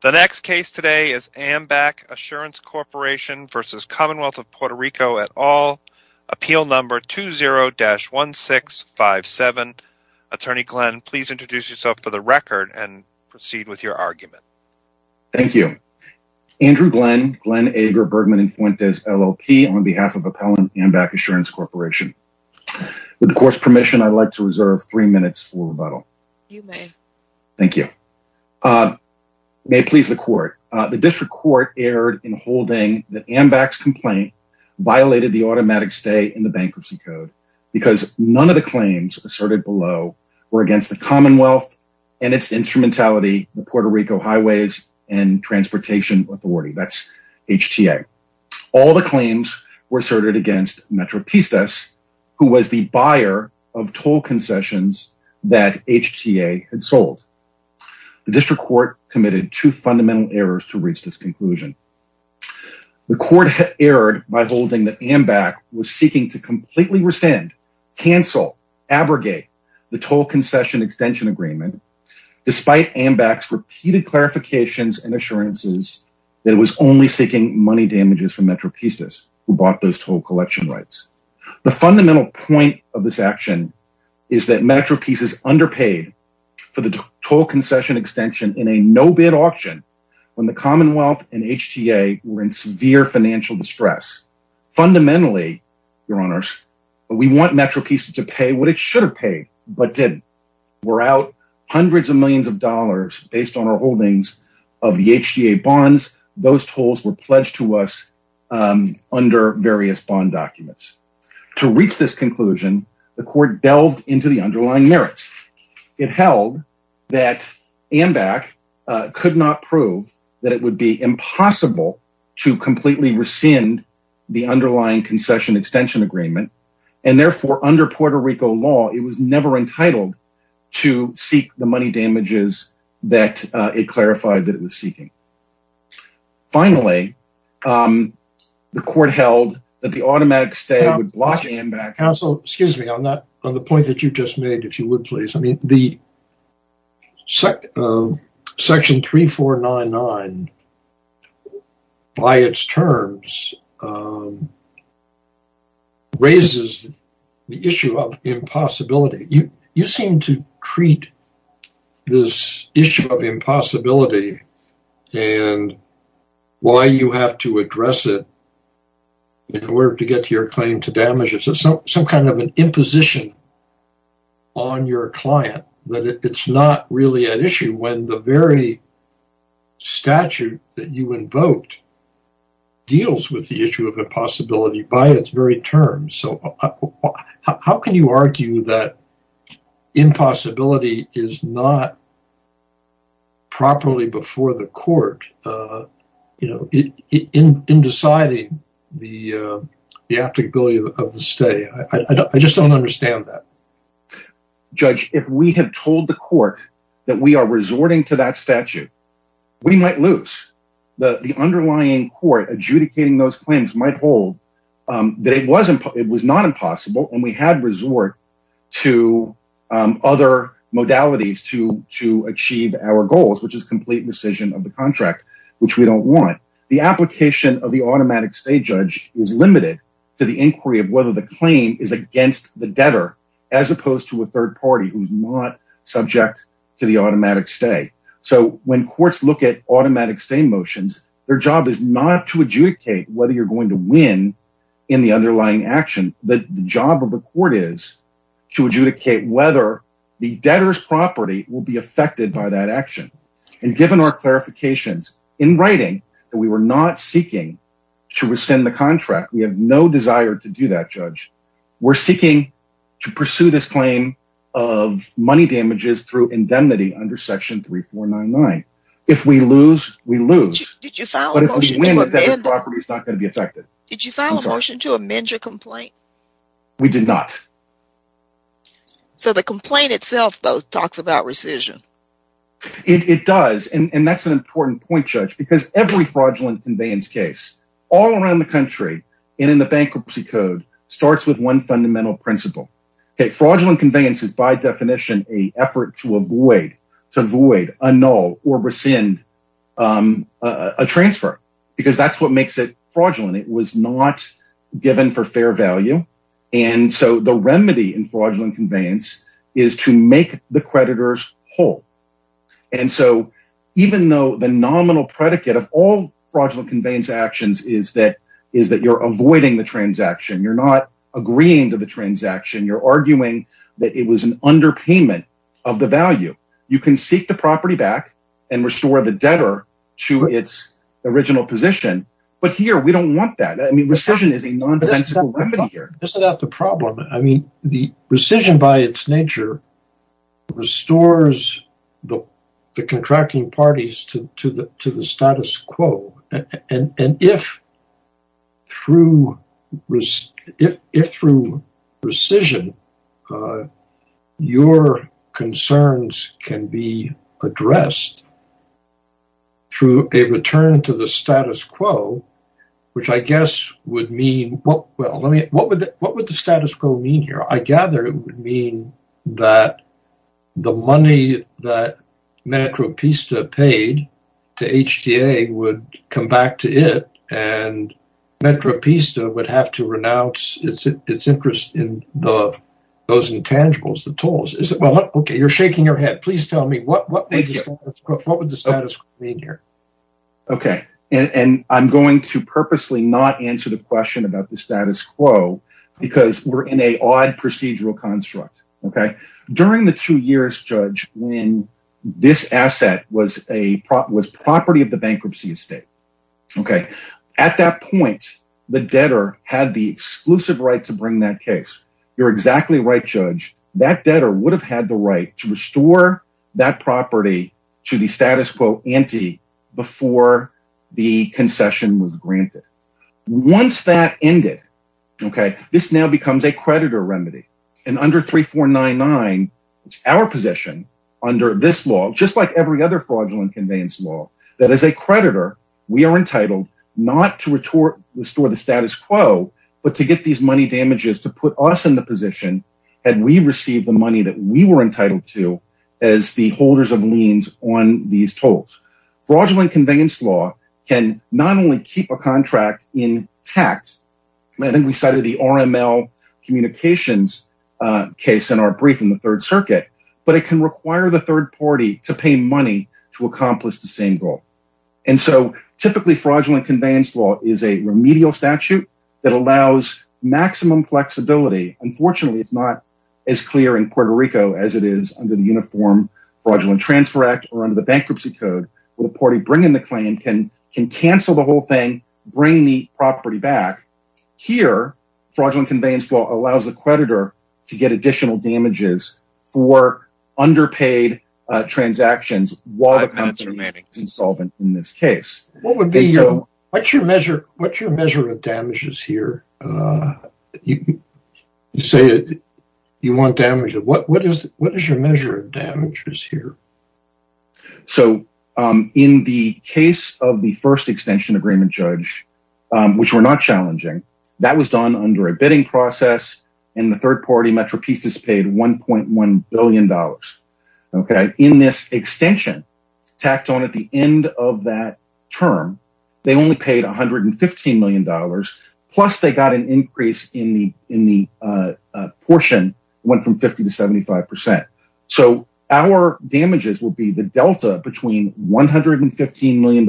The next case today is Ambac Assurance Corporation v. Commonwealth of Puerto Rico et al. Appeal number 20-1657. Attorney Glenn, please introduce yourself for the record and proceed with your argument. Thank you. Andrew Glenn, Glenn Ager Bergman & Fuentes, LLP, on behalf of Appellant Ambac Assurance Corporation. With the court's permission, I'd like to reserve three minutes for rebuttal. You may. Thank you. May it please the court, the district court erred in holding that Ambac's complaint violated the automatic stay in the bankruptcy code because none of the claims asserted below were against the Commonwealth and its instrumentality, the Puerto Rico Highways and Transportation Authority, that's HTA. All the had sold. The district court committed two fundamental errors to reach this conclusion. The court erred by holding that Ambac was seeking to completely rescind, cancel, abrogate the toll concession extension agreement, despite Ambac's repeated clarifications and assurances that it was only seeking money damages from Metropistas who bought those collection rights. The fundamental point of this action is that Metropistas underpaid for the toll concession extension in a no-bid auction when the Commonwealth and HTA were in severe financial distress. Fundamentally, your honors, we want Metropistas to pay what it should have paid, but didn't. We're out hundreds of millions of dollars based on our holdings of HTA bonds. Those tolls were pledged to us under various bond documents. To reach this conclusion, the court delved into the underlying merits. It held that Ambac could not prove that it would be impossible to completely rescind the underlying concession extension agreement, and therefore, under Puerto Rico law, it was never entitled to seek the money damages that it clarified that it was seeking. Finally, the court held that the automatic stay would block Ambac... Counsel, excuse me on that, on the point that you just made, if you would please. I mean, the section 3499 by its terms raises the issue of impossibility. You seem to treat this issue of impossibility and why you have to address it in order to get your claim to damages as some kind of an imposition on your client, that it's not really an issue when the very statute that you invoked deals with the issue of impossibility by its very terms. So how can you argue that impossibility is not properly before the court in deciding the applicability of the stay? I just don't understand that. Judge, if we had told the court that we are resorting to that statute, we might lose. The underlying court adjudicating those claims might hold that it was not impossible and we had resort to other modalities to achieve our goals, which is complete rescission of the contract, which we don't want. The application of the automatic stay judge is limited to the inquiry of whether the claim is against the debtor, as opposed to a third party who's not subject to the automatic stay. So when courts look at automatic stay motions, their job is not to adjudicate whether you're going to win in the underlying action. The job of the court is to adjudicate whether the debtor's property will be affected by that action. And given our clarifications in writing that we were not seeking to rescind the contract, we have no desire to do that, Judge. We're seeking to pursue this claim of money damages through indemnity under section 3499. If we lose, we lose. But if we win, the debtor's property is not going to be affected. Did you file a motion to amend your complaint? We did not. So the complaint itself, though, talks about rescission. It does. And that's important point, Judge, because every fraudulent conveyance case all around the country and in the bankruptcy code starts with one fundamental principle. Fraudulent conveyance is by definition an effort to avoid a null or rescind a transfer, because that's what makes it fraudulent. It was not given for fair value. And so the remedy in fraudulent conveyance is to make the creditors whole. And so even though the nominal predicate of all fraudulent conveyance actions is that you're avoiding the transaction, you're not agreeing to the transaction, you're arguing that it was an underpayment of the value, you can seek the property back and restore the debtor to its original position. But here we don't want that. I mean, rescission is a nonsensical remedy here. Isn't that the problem? I mean, the rescission by its nature restores the contracting parties to the status quo. And if through rescission, your concerns can be addressed through a return to the status quo, which I guess would mean, well, what would the status quo mean here? I gather it would mean that the money that Metropista paid to HTA would come back to it, and Metropista would have to renounce its interest in those intangibles, the tolls. Okay, you're shaking your head. Please tell me what would the status quo mean here? Okay. And I'm going to purposely not answer the question about the status quo, because we're in a odd procedural construct. Okay. During the two years, Judge, when this asset was property of the bankruptcy estate. Okay. At that point, the debtor had the exclusive right to bring that case. You're exactly right, Judge. That debtor would have had the right to restore that property to the status quo ante before the concession was granted. Once that ended, okay, this now becomes a creditor remedy. And under 3499, it's our position under this law, just like every other fraudulent conveyance law, that as a creditor, we are entitled not to restore the status quo, but to get these money damages to put us in the position and we receive the money that we were entitled to as the holders of liens on these tolls. Fraudulent conveyance law can not only keep a contract intact, I think we cited the RML communications case in our brief in the Third Circuit, but it can require the third party to pay money to accomplish the same goal. And so that allows maximum flexibility. Unfortunately, it's not as clear in Puerto Rico as it is under the Uniform Fraudulent Transfer Act or under the Bankruptcy Code, where the party bringing the claim can cancel the whole thing, bring the property back. Here, fraudulent conveyance law allows the creditor to get additional damages for underpaid transactions while the company remains solvent in this case. What's your measure of damages here? You say you want damages, what is your measure of damages here? So, in the case of the first extension agreement judge, which were not challenging, that was done under a bidding process, and the third party, of that term, they only paid $115 million, plus they got an increase in the portion, went from 50 to 75%. So, our damages will be the delta between $115 million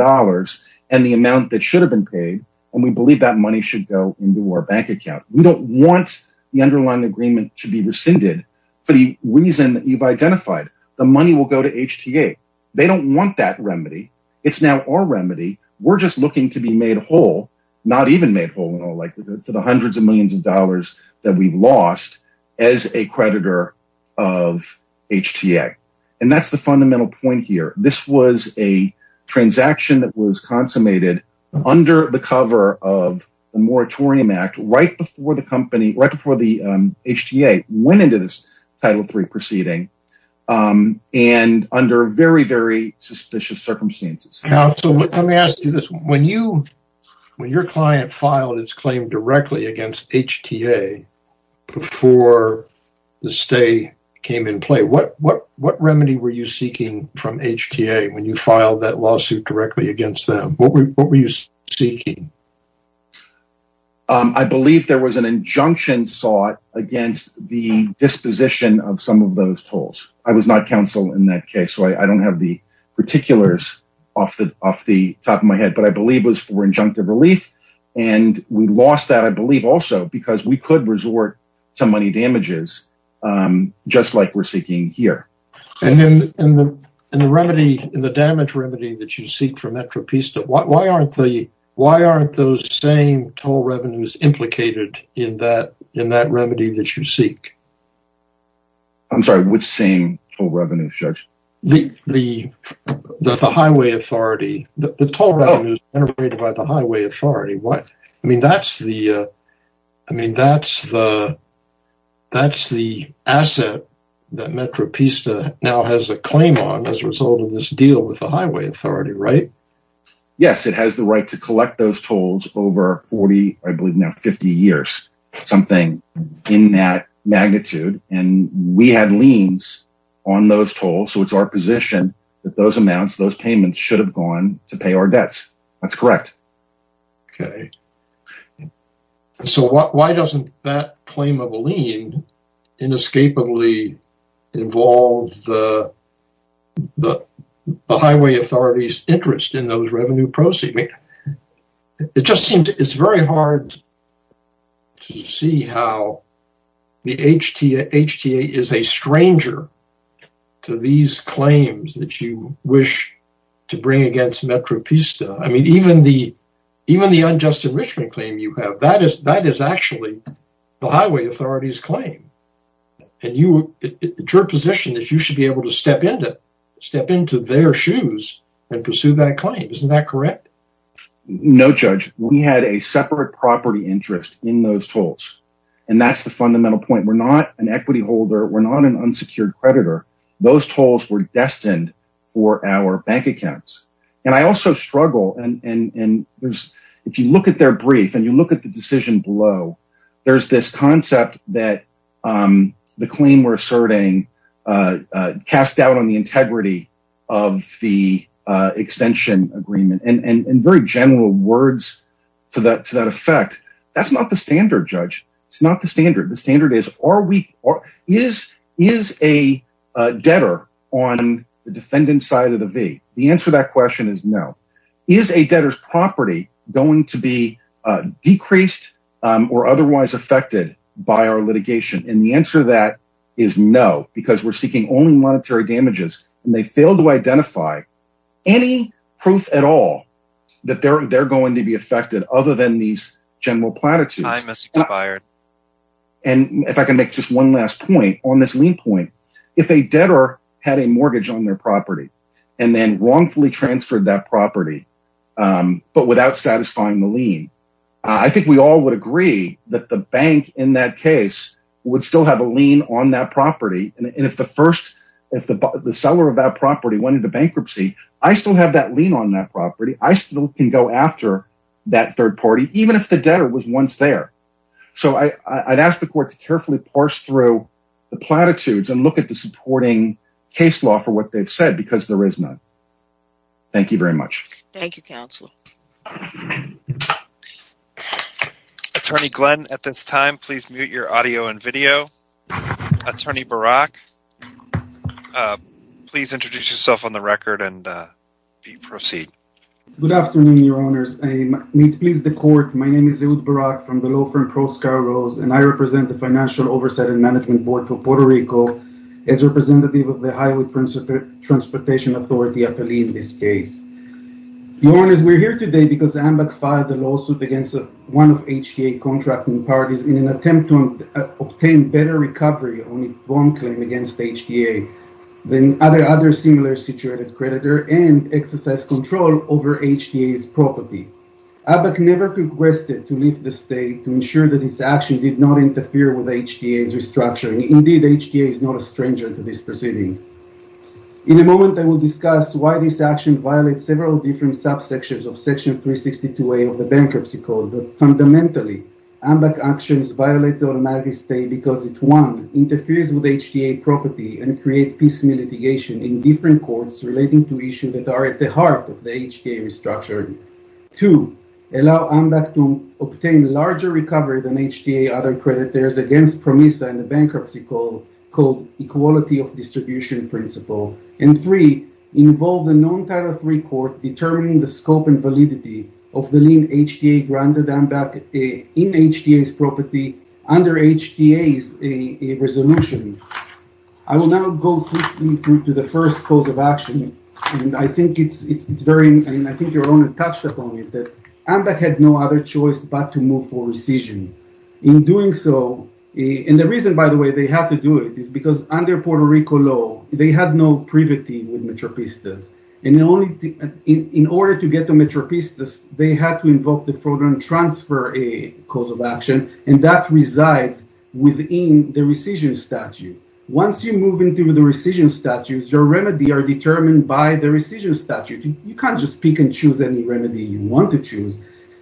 and the amount that should have been paid, and we believe that money should go into our bank account. We don't want the underlying agreement to be rescinded for the reason that you've identified, the money will go to HTA. They don't want that remedy. It's now our remedy. We're just looking to be made whole, not even made whole, like for the hundreds of millions of dollars that we've lost as a creditor of HTA. And that's the fundamental point here. This was a transaction that was consummated under the cover of a moratorium act right before the company, right before the HTA, went into this Title III proceeding, and under very, very suspicious circumstances. Now, so let me ask you this. When your client filed his claim directly against HTA before the stay came in play, what remedy were you seeking from HTA when you filed that lawsuit directly against them? What were you seeking? I believe there was an injunction sought against the disposition of some of those tolls. I was not counsel in that case, so I don't have the particulars off the top of my head, but I believe it was for injunctive relief, and we lost that, I believe, also because we could resort to money damages, just like we're seeking here. And then in the remedy, in the damage remedy that you seek for Metropista, why aren't those same toll revenues implicated in that remedy that you seek? I'm sorry, which same toll revenues, Judge? The highway authority. The toll revenues generated by the highway authority. I mean, that's the asset that Metropista now has a claim on as a result of this deal with the highway authority, right? Yes, it has the right to collect those tolls over 40, I believe now 50 years, something in that magnitude, and we had liens on those tolls, so it's our position that those amounts, those payments should have gone to pay our debts. That's correct. Okay, so why doesn't that claim of a lien inescapably involve the highway authority's interest in those revenue proceeds? I mean, it just seems it's very hard to see how the HTA is a stranger to these claims that you wish to bring against Metropista. I mean, even the unjust enrichment claim you have, that is actually the highway authority's claim, and your position is you should be able to step into their shoes and pursue that claim. Isn't that correct? No, Judge. We had a separate property interest in those tolls, and that's the fundamental point. We're not an equity holder. We're not an unsecured creditor. Those tolls were destined for our bank accounts, and I also struggle, and if you look at their brief and you look at the decision below, there's this concept that the claim we're asserting is being cast out on the integrity of the extension agreement, and in very general words to that effect, that's not the standard, Judge. It's not the standard. The standard is, is a debtor on the defendant's side of the V? The answer to that question is no. Is a debtor's property going to be decreased or otherwise affected by our litigation? And the answer to is no, because we're seeking only monetary damages, and they fail to identify any proof at all that they're going to be affected other than these general platitudes. Time has expired. And if I can make just one last point on this lien point, if a debtor had a mortgage on their property and then wrongfully transferred that property, but without satisfying the lien, I think we all would agree that the bank in that case would still have a lien on that property, and if the seller of that property went into bankruptcy, I still have that lien on that property. I still can go after that third party, even if the debtor was once there. So I'd ask the court to carefully parse through the platitudes and look at the supporting case law for what they've said, because there is none. Thank you very much. Thank you, Counselor. Attorney Glenn, at this time, please mute your audio and video. Attorney Barak, please introduce yourself on the record and proceed. Good afternoon, Your Honors. I need to please the court. My name is Eud Barak from the law firm Pro Scargoes, and I represent the Financial Oversight and Management Board for Puerto Rico as representative of the Highway Transportation Authority, APALE, in this case. Your Honors, we're here today because AMBAC filed a lawsuit against one of HTA contracting parties in an attempt to obtain better recovery on its bond claim against HTA than other similar situated creditor and exercise control over HTA's property. AMBAC never requested to leave the state to this proceeding. In a moment, I will discuss why this action violates several different subsections of Section 362A of the Bankruptcy Code. Fundamentally, AMBAC actions violate the automaticity because it, one, interferes with HTA property and creates peaceful litigation in different courts relating to issues that are at the heart of the HTA restructuring. Two, allow AMBAC to obtain larger recovery than HTA other creditors against PROMISA and the Bankruptcy Code Equality of Distribution Principle, and three, involve the non-Title III court determining the scope and validity of the lien HTA granted AMBAC in HTA's property under HTA's resolution. I will now go quickly to the first cause of action, and I think it's very, and I think Your Honors touched upon it, that AMBAC had no other choice but to move for rescission. In doing so, and the reason, by the way, they had to do it is because under Puerto Rico law, they had no privity with Metropistas, and in order to get to Metropistas, they had to invoke the fraudulent transfer cause of action, and that resides within the rescission statute. Once you move into the rescission statute, your remedy are determined by the rescission statute. You can't just pick and choose any remedy you want to choose,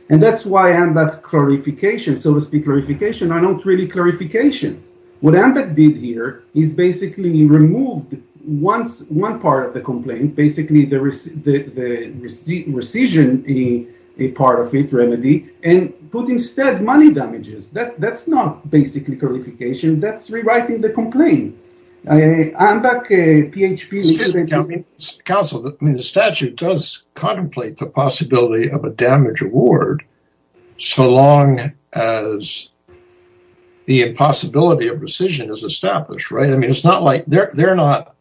and that's why AMBAC's clarification, so to speak, clarification, are not really clarification. What AMBAC did here is basically removed one part of the complaint, basically the rescission part of it, remedy, and put instead money damages. That's not basically clarification. That's rewriting the complaint. AMBAC, PHP… Excuse me, counsel. I mean, the statute does contemplate the possibility of a damage award so long as the impossibility of rescission is established, right? I mean, it's not like they're not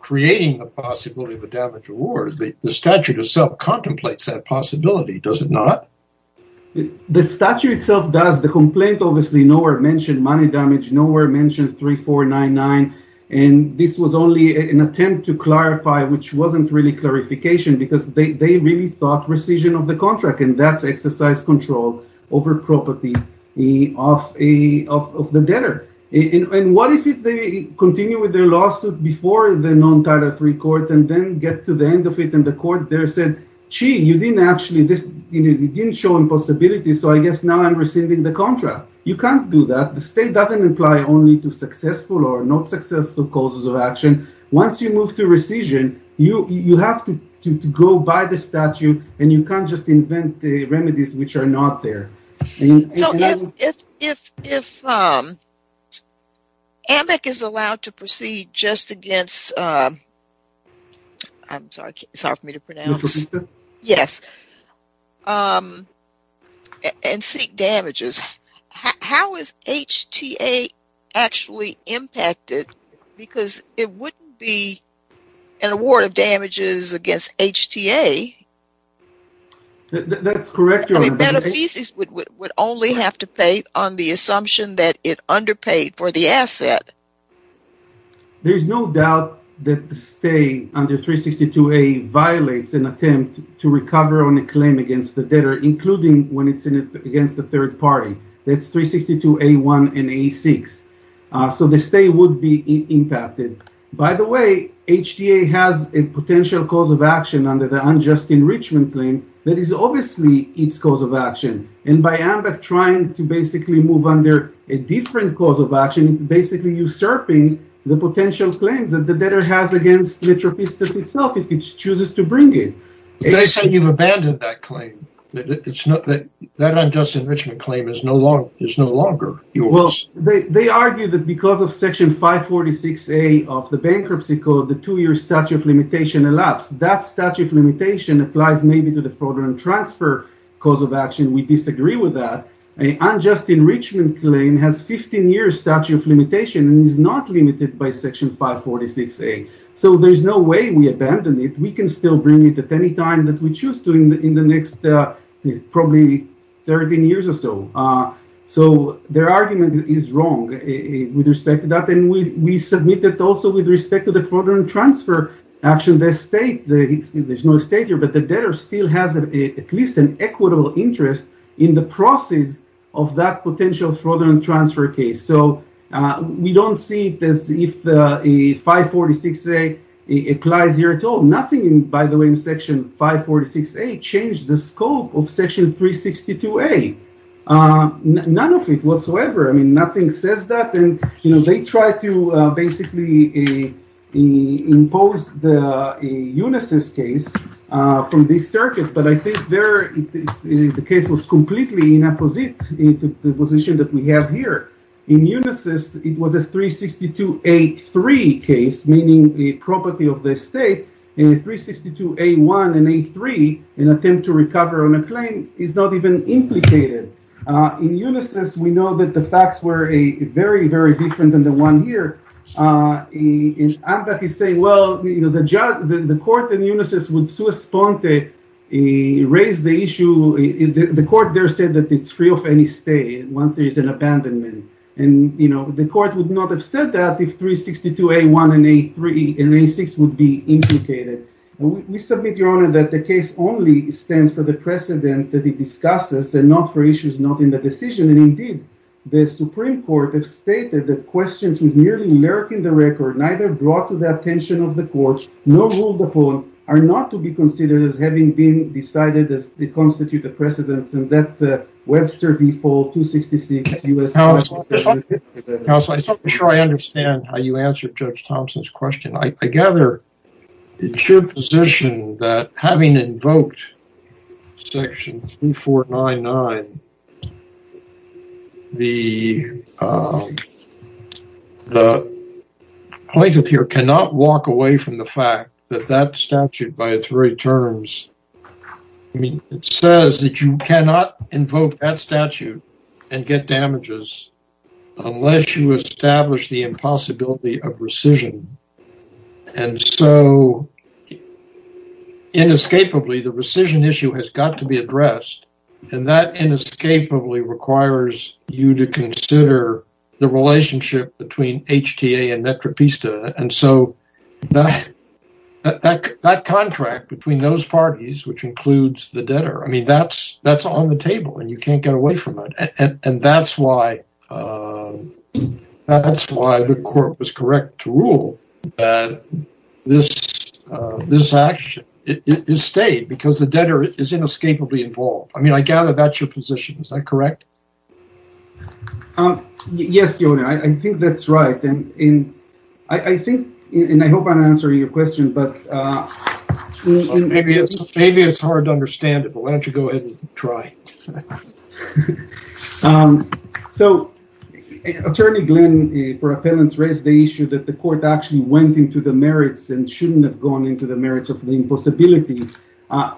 creating the possibility of a damage award. The statute itself contemplates that possibility, does it not? The statute itself does. The complaint, obviously, nowhere mentioned money damage, nowhere mentioned 3499, and this was only an attempt to clarify, which wasn't really clarification, because they really thought rescission of the contract, and that's exercise control over property of the debtor. And what if they continue with their lawsuit before the non-Title III court and then get to the end of it, and the court there said, gee, you didn't actually… It didn't show impossibility, so I guess now I'm rescinding the contract. You can't do that. The state doesn't apply only to successful or not successful causes of action. Once you move to rescission, you have to go by the statute, and you can't just invent the remedies which are not there. So, if AMIC is allowed to proceed just against… I'm sorry, sorry for me to pronounce… An award of damages against HTA. That's correct. I mean, Beneficis would only have to pay on the assumption that it underpaid for the asset. There's no doubt that the stay under 362A violates an attempt to recover on a claim against the debtor, including when it's against the third party. That's 362A1 and 362A6. So, the stay would be impacted. By the way, HTA has a potential cause of action under the unjust enrichment claim that is obviously its cause of action, and by AMBAC trying to basically move under a different cause of action, it's basically usurping the potential claims that the debtor has against Metropistas itself if it chooses to bring it. They said you've abandoned that claim. It's not that… That unjust enrichment claim is no longer yours. Well, they argue that because of Section 546A of the bankruptcy code, the two-year statute of limitation elapsed. That statute of limitation applies maybe to the fraudulent transfer cause of action. We disagree with that. An unjust enrichment claim has a 15-year statute of limitation and is not limited by Section 546A. So, there's no way we abandon it. We can still bring it at any time that we choose to in the next probably 13 years or so. So, their argument is wrong with respect to that, and we submit it also with respect to the fraudulent transfer action. There's no state here, but the debtor still has at least an equitable interest in the proceeds of that potential fraudulent transfer case. So, we don't see if 546A applies here at all. Nothing, by the way, in Section 546A changed the scope of Section 362A. None of it whatsoever. I mean, nothing says that. They tried to basically impose the Unisys case from this circuit, but I think the case was completely in the position that we have here. In Unisys, it was a 362A3 case, meaning the property of the state. And 362A1 and A3, an attempt to recover on a claim, is not even implicated. In Unisys, we know that the facts were very, very different than the one here. And that is saying, well, the court in Unisys would raise the issue. The court there said that it's free of any stay once there's an abandonment. And the court would not have said that if 362A1 and A3 and A6 would be implicated. And we submit, Your Honor, that the case only stands for the precedent that it discusses and not for issues not in the decision. And indeed, the Supreme Court has stated that questions with nearly lurking the record, neither brought to the attention of the court, nor ruled upon, are not to be considered as having been decided as they constitute the precedents. And that Webster v. Fole, 266 U.S. House... Counsel, I'm not sure I understand how you answered Judge Thompson's question. I gather it's your position that having invoked Section 3499, the plaintiff here cannot walk away from the fact that that statute by its very terms, I mean, it says that you cannot invoke that statute and get damages unless you establish the impossibility of rescission. And so inescapably, the rescission issue has got to be addressed. And that inescapably requires you to consider the relationship between HTA and Metropista. And so that contract between those parties, which includes the debtor, I mean, that's on the table and you can't get away from it. And that's why the court was correct to rule that this action is stayed because the debtor is inescapably involved. I mean, I gather that's your position. Is that correct? Yes, Your Honor. I think that's right. And I think, and I hope I'm answering your question, but... Maybe it's hard to understand it, but why don't you go ahead and try. So, Attorney Glenn, for appellants, raised the issue that the court actually went into the merits and shouldn't have gone into the merits of the impossibility.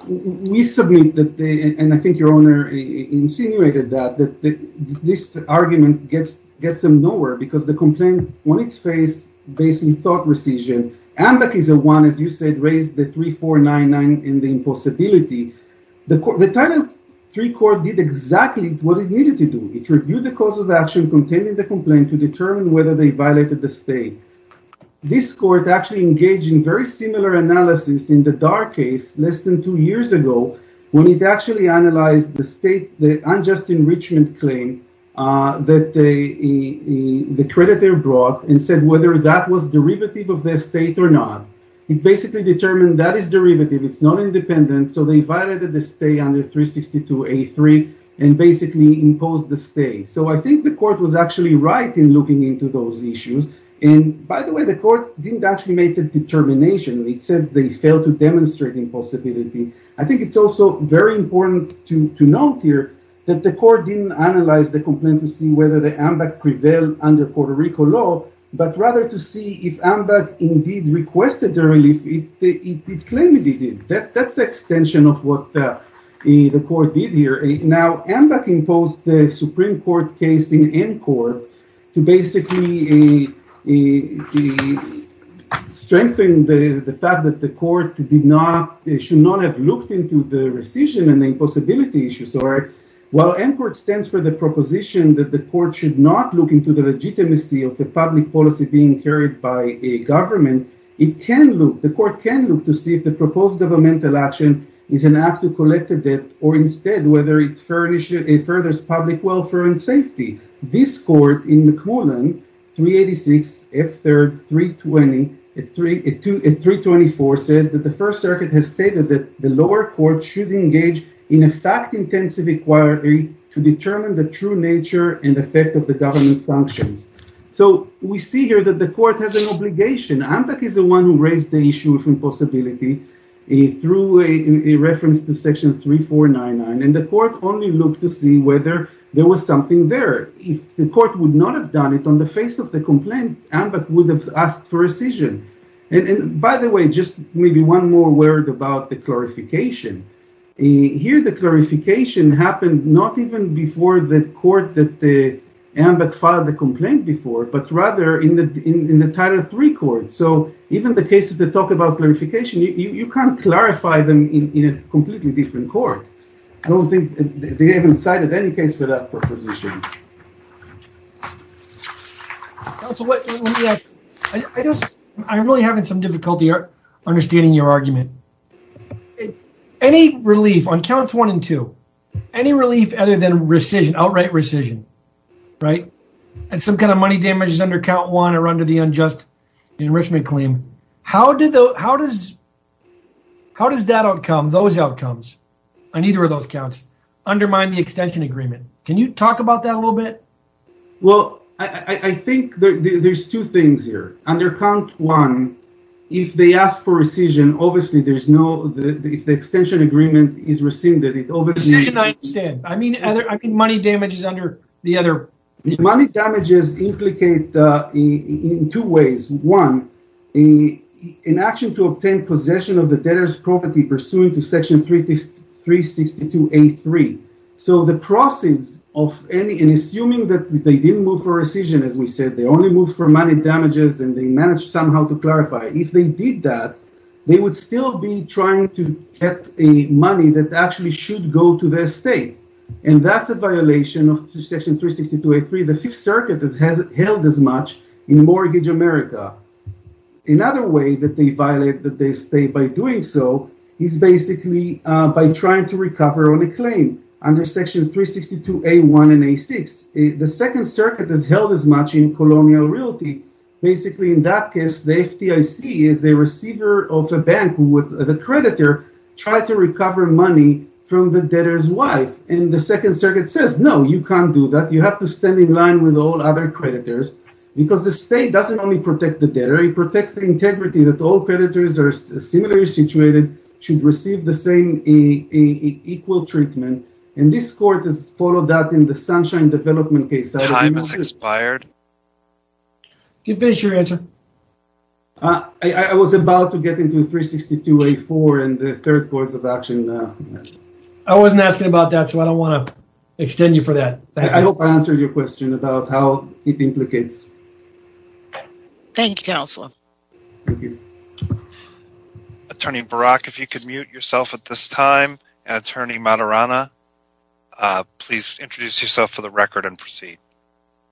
We submit that, and I think Your Honor insinuated that, that this argument gets them nowhere because the complaint on its face, based on thought rescission, and the case of one, as you said, raised the 3499 in the impossibility. The Title III court did exactly what it needed to do. It reviewed the cause of action contained in the complaint to determine whether they violated the stay. This court actually engaged in very similar analysis in the Dar case less than two years ago, when it actually analyzed the state, the unjust enrichment claim that the creditor brought and said whether that was derivative of their state or not. It basically determined that is derivative, it's not independent, so they violated the stay under 362A3 and basically imposed the stay. So I think the court was actually right in looking into those issues. And by the way, the court didn't actually determine, it said they failed to demonstrate impossibility. I think it's also very important to note here that the court didn't analyze the complaint to see whether the AMBAC prevailed under Puerto Rico law, but rather to see if AMBAC indeed requested the relief, it claimed it did. That's an extension of what the court did here. Now, AMBAC imposed the Supreme Court case in N to basically strengthen the fact that the court should not have looked into the rescission and the impossibility issues. While AMBAC stands for the proposition that the court should not look into the legitimacy of the public policy being carried by a government, the court can look to see if the proposed governmental action is an act to collect the debt or instead whether it furthers public welfare and safety. This court in McClellan, 386F3-324, said that the First Circuit has stated that the lower court should engage in a fact-intensive inquiry to determine the true nature and effect of the government's functions. So we see here that the court has an obligation. AMBAC is the one who raised the issue of impossibility through a reference to section 3499, and the court only looked to see whether there was something there. If the court would not have done it on the face of the complaint, AMBAC would have asked for rescission. And by the way, just maybe one more word about the clarification. Here, the clarification happened not even before the court that AMBAC filed the clarification. You can't clarify them in a completely different court. I don't think they even cited any case for that proposition. I'm really having some difficulty understanding your argument. Any relief on counts one and two, any relief other than rescission, outright rescission, right? And some kind of money damage. How does that outcome, those outcomes on either of those counts, undermine the extension agreement? Can you talk about that a little bit? Well, I think there's two things here. Under count one, if they ask for rescission, obviously there's no... if the extension agreement is rescinded, it obviously... I understand. I mean money damages under the other... Money damages implicate in two ways. One, an action to obtain possession of the debtor's property pursuant to section 362A3. So the proceeds of any... and assuming that they didn't move for rescission, as we said, they only moved for money damages and they managed somehow to clarify. If they did that, they would still be trying to get the money that actually should go to the estate. And that's a violation of section 362A3. The Fifth Circuit has held as much in mortgage America. Another way that they violate the estate by doing so is basically by trying to recover on a claim under section 362A1 and A6. The Second Circuit has held as much in colonial realty. Basically in that case, the FDIC is a receiver of a bank who would, the creditor, try to recover money from the debtor's wife. And the Second Circuit says, no, you can't do that. You have to stand in line with all other creditors because the state doesn't only protect the debtor, it protects the integrity that all creditors are similarly situated, should receive the same equal treatment. And this court has followed that in the Sunshine Development case. Time has expired. You can finish your answer. I was about to get into 362A4 and the third course of action. I wasn't asking about that, so I don't want to extend you for that. I hope I answered your question about how it implicates. Thank you, Counselor. Attorney Barak, if you could mute yourself at this time. And Attorney Maturana, please introduce yourself for the record and proceed.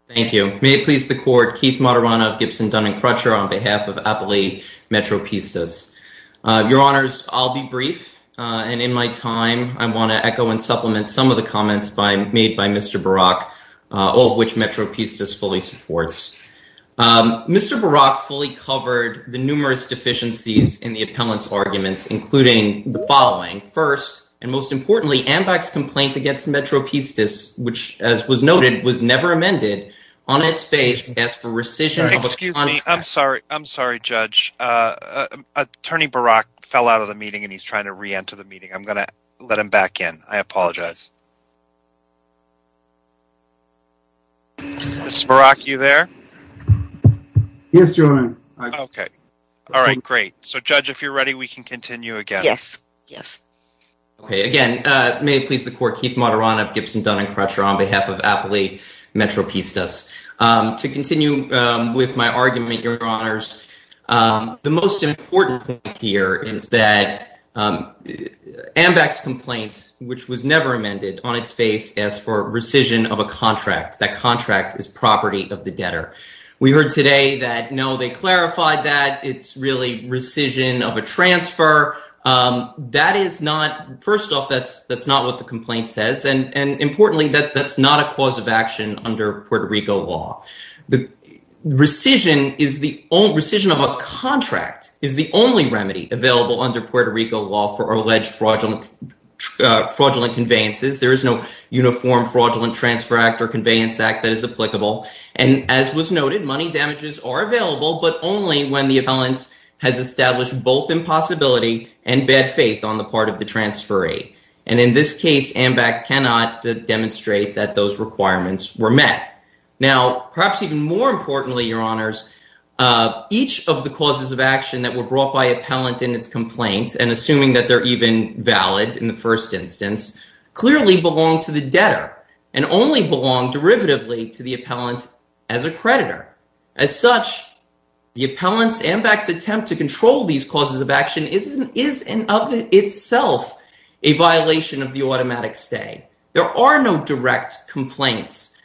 Thank you. May it please the court, Keith Maturana of Gibson, Dun and Crutcher, on behalf of Appellee Metropistas. Your Honors, I'll be brief. And in my time, I want to echo and supplement some of the comments made by Mr. Barak, all of which Metropistas fully supports. Mr. Barak fully covered the numerous deficiencies in the appellant's arguments, including the following. First, and most importantly, AMBAC's complaint against Metropistas, which, as was noted, was never amended, on its face, as for rescission. Excuse me. I'm sorry. I'm sorry, Judge. Attorney Barak fell out of the meeting and he's trying to reenter the meeting. I'm going to let him back in. I apologize. Ms. Barak, are you there? Yes, Your Honor. Okay. All right. Great. So, Judge, if you're ready, we can continue again. Yes. Yes. Okay. Again, may it please the Court, Keith Moderano of Gibson, Dun and Crutcher, on behalf of Appellee Metropistas. To continue with my argument, Your Honors, the most important point here is that AMBAC's complaint, which was never amended, on its face, as for rescission of a contract, that contract is property of the debtor. We heard today that, no, they clarified that. It's really rescission of a transfer. That is not, first off, that's not what the complaint says. And importantly, that's not a cause of action under Puerto Rico law. The rescission of a contract is the only remedy available under Puerto Rico law for alleged fraudulent conveyances. There is no uniform Fraudulent Transfer Act or Conveyance Act that is applicable. And as was noted, money damages are available, but only when the appellant has established both impossibility and bad faith on the part of the transferee. And in this case, AMBAC cannot demonstrate that those requirements were met. Now, perhaps even more importantly, Your Honors, each of the causes of action that were brought by appellant in its complaints, and assuming that they're even valid in the first instance, clearly belong to the debtor and only belong derivatively to the appellant as a creditor. As such, the appellant's, AMBAC's attempt to control these causes of action is in of itself a violation of the automatic stay. There are no direct complaints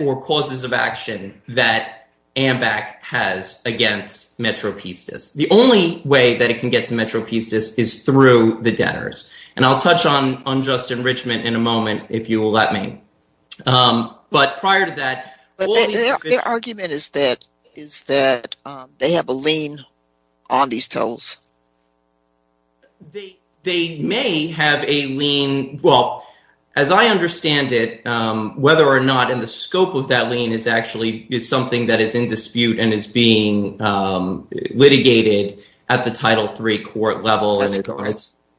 or causes of action that AMBAC has against Metro Pistis. The only way that it can get to Metro Pistis is through the debtors. And I'll touch on unjust enrichment in a moment, if you will let me. But prior to that... But their argument is that they have a lien on these tolls. They may have a lien. Well, as I understand it, whether or not in the scope of that lien is actually is something that is in dispute and is being litigated at the Title III court level,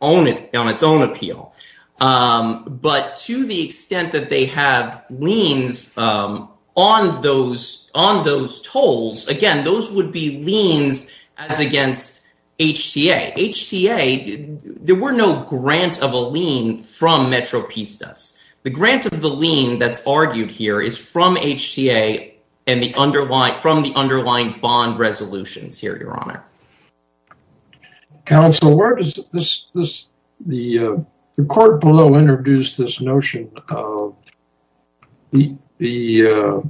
on its own appeal. But to the extent that they have liens on those tolls, again, those would be liens as against HTA. HTA, there were no grant of a lien from Metro Pistis. The grant of the lien that's argued here is from HTA and from the underlying bond resolutions here, Your Honor. Counsel, the court below introduced this notion of the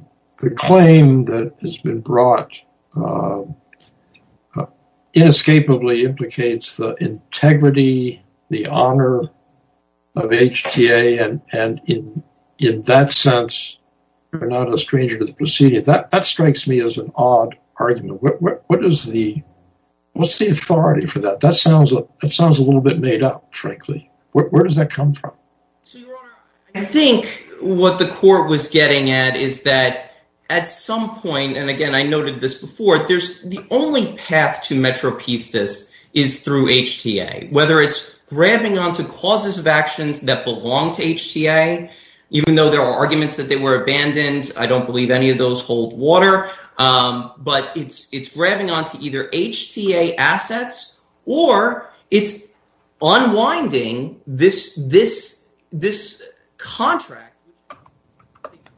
claim that has been brought inescapably implicates the integrity, the honor of HTA. And in that sense, you're not a stranger to the proceedings. That strikes me as an odd argument. What's the authority for that? That sounds a little bit made up, frankly. Where does that come from? I think what the court was getting at is that at some point, and again, I noted this before, there's the only path to Metro Pistis is through HTA, whether it's grabbing onto causes of actions that belong to HTA. Even though there are arguments that they were abandoned, I don't believe any of those hold water. But it's grabbing onto either HTA assets or it's unwinding this contract,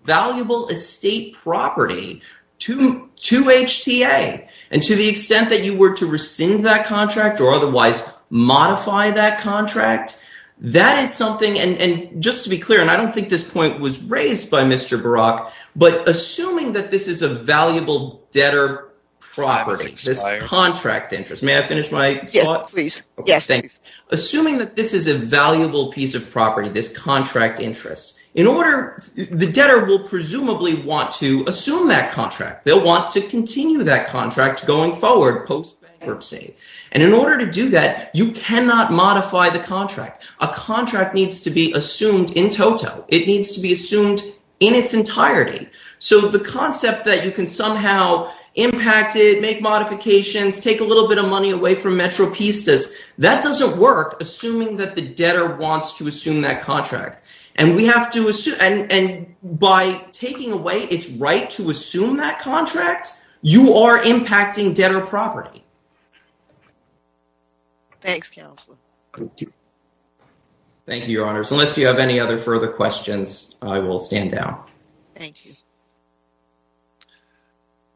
valuable estate property to HTA. And to the extent that you were to rescind that contract or otherwise modify that contract, that is something, and just to be clear, and I don't think this point was raised by Mr. Barak, but assuming that this is a valuable debtor property, this contract interest, may I finish my thought? Yes, please. Yes, please. Assuming that this is a valuable piece of property, this contract interest, the debtor will presumably want to assume that contract. They'll want to continue that contract going forward post bankruptcy. And in order to do that, you cannot modify the contract. A contract needs to be assumed in toto. It needs to be assumed in its entirety. So the concept that you can somehow impact it, make modifications, take a little bit of money away from Metro Pistis, that doesn't work assuming that the debtor wants to assume that contract. And by taking away its to assume that contract, you are impacting debtor property. Thanks, Counselor. Thank you, Your Honors. Unless you have any other further questions, I will stand down. Thank you.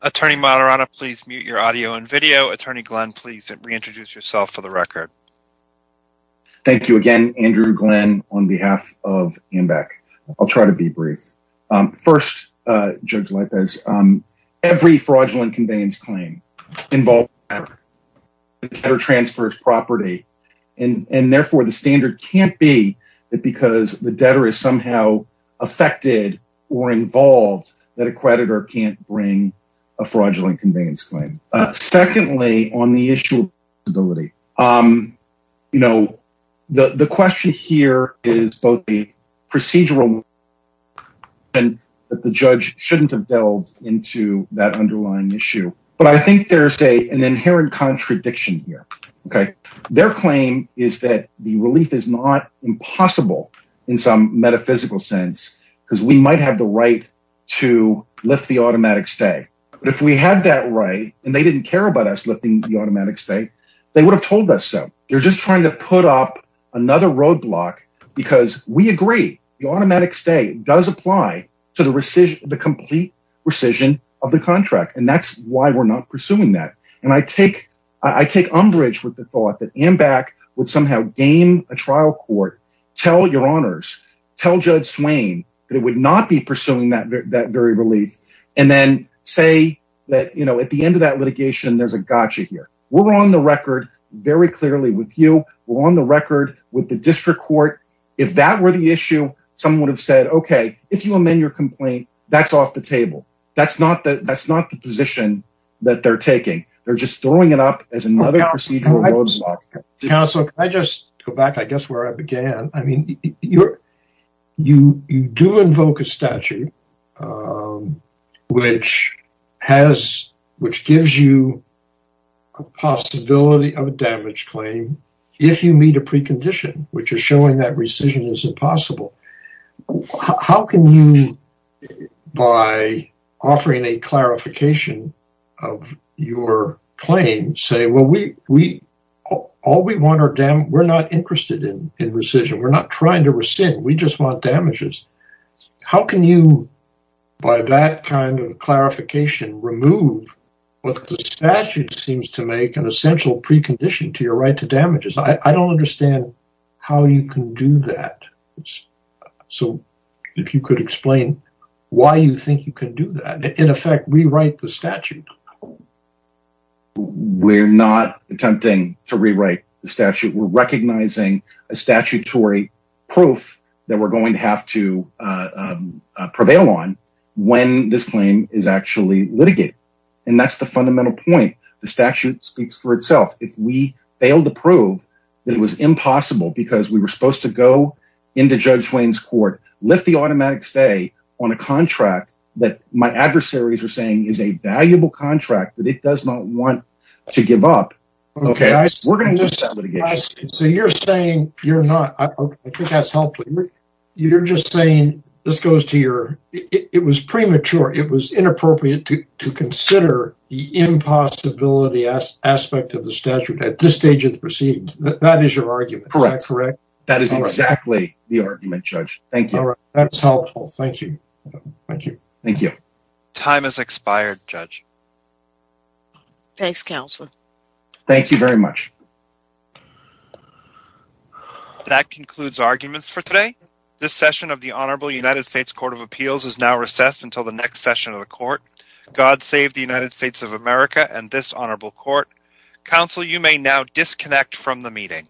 Attorney Moderata, please mute your audio and video. Attorney Glenn, please reintroduce yourself for the record. Thank you again, Andrew Glenn, on behalf of AMBAC. I'll try to be brief. First, Judge Lipez, every fraudulent conveyance claim involves a debtor. The debtor transfers property, and therefore the standard can't be that because the debtor is somehow affected or involved that a creditor can't bring a fraudulent conveyance claim. Secondly, on the issue of flexibility, the question here is both the procedural and that the judge shouldn't have delved into that underlying issue. But I think there's an inherent contradiction here. Their claim is that the relief is not impossible in some metaphysical sense, because we might have the right to lift the automatic stay. But if we had that right, and they didn't care about us lifting the automatic stay, they would have told us so. They're just trying to put up another roadblock because we agree the automatic stay does apply to the complete rescission of the contract. And that's why we're not pursuing that. And I take umbrage with the thought that AMBAC would somehow gain a trial court, tell your honors, tell Judge Swain that it would not be pursuing that very relief. And then say that, you know, at the end of that litigation, there's a gotcha here. We're on the record very clearly with you. We're on the record with the district court. If that were the issue, someone would have said, okay, if you amend your complaint, that's off the table. That's not the position that they're taking. They're just throwing it up as another procedural roadblock. Counselor, can I just go back, I guess, where I began? I mean, you do invoke a statute which gives you a possibility of a damage claim if you meet a precondition, which is showing that we're not interested in rescission. We're not trying to rescind. We just want damages. How can you, by that kind of clarification, remove what the statute seems to make an essential precondition to your right to damages? I don't understand how you can do that. So if you could explain why you think you can do that. In effect, we write the statute. We're not attempting to rewrite the statute. We're recognizing a statutory proof that we're going to have to prevail on when this claim is actually litigated. And that's the fundamental point. The statute speaks for itself. If we fail to prove that it was impossible because we were supposed to go into Judge Wayne's court, lift the automatic stay on a contract that my adversaries are saying is a valuable contract that it does not want to give up, we're going to do some litigation. So you're saying you're not, I think that's helpful. You're just saying this goes to your, it was premature. It was inappropriate to consider the impossibility aspect of the statute at this stage of the proceedings. That is your argument, correct? That is exactly the judge. Thanks, counsel. Thank you very much. That concludes arguments for today. This session of the Honorable United States Court of Appeals is now recessed until the next session of the court. God save the United States of America and this honorable court. Counsel, you may now disconnect from the meeting.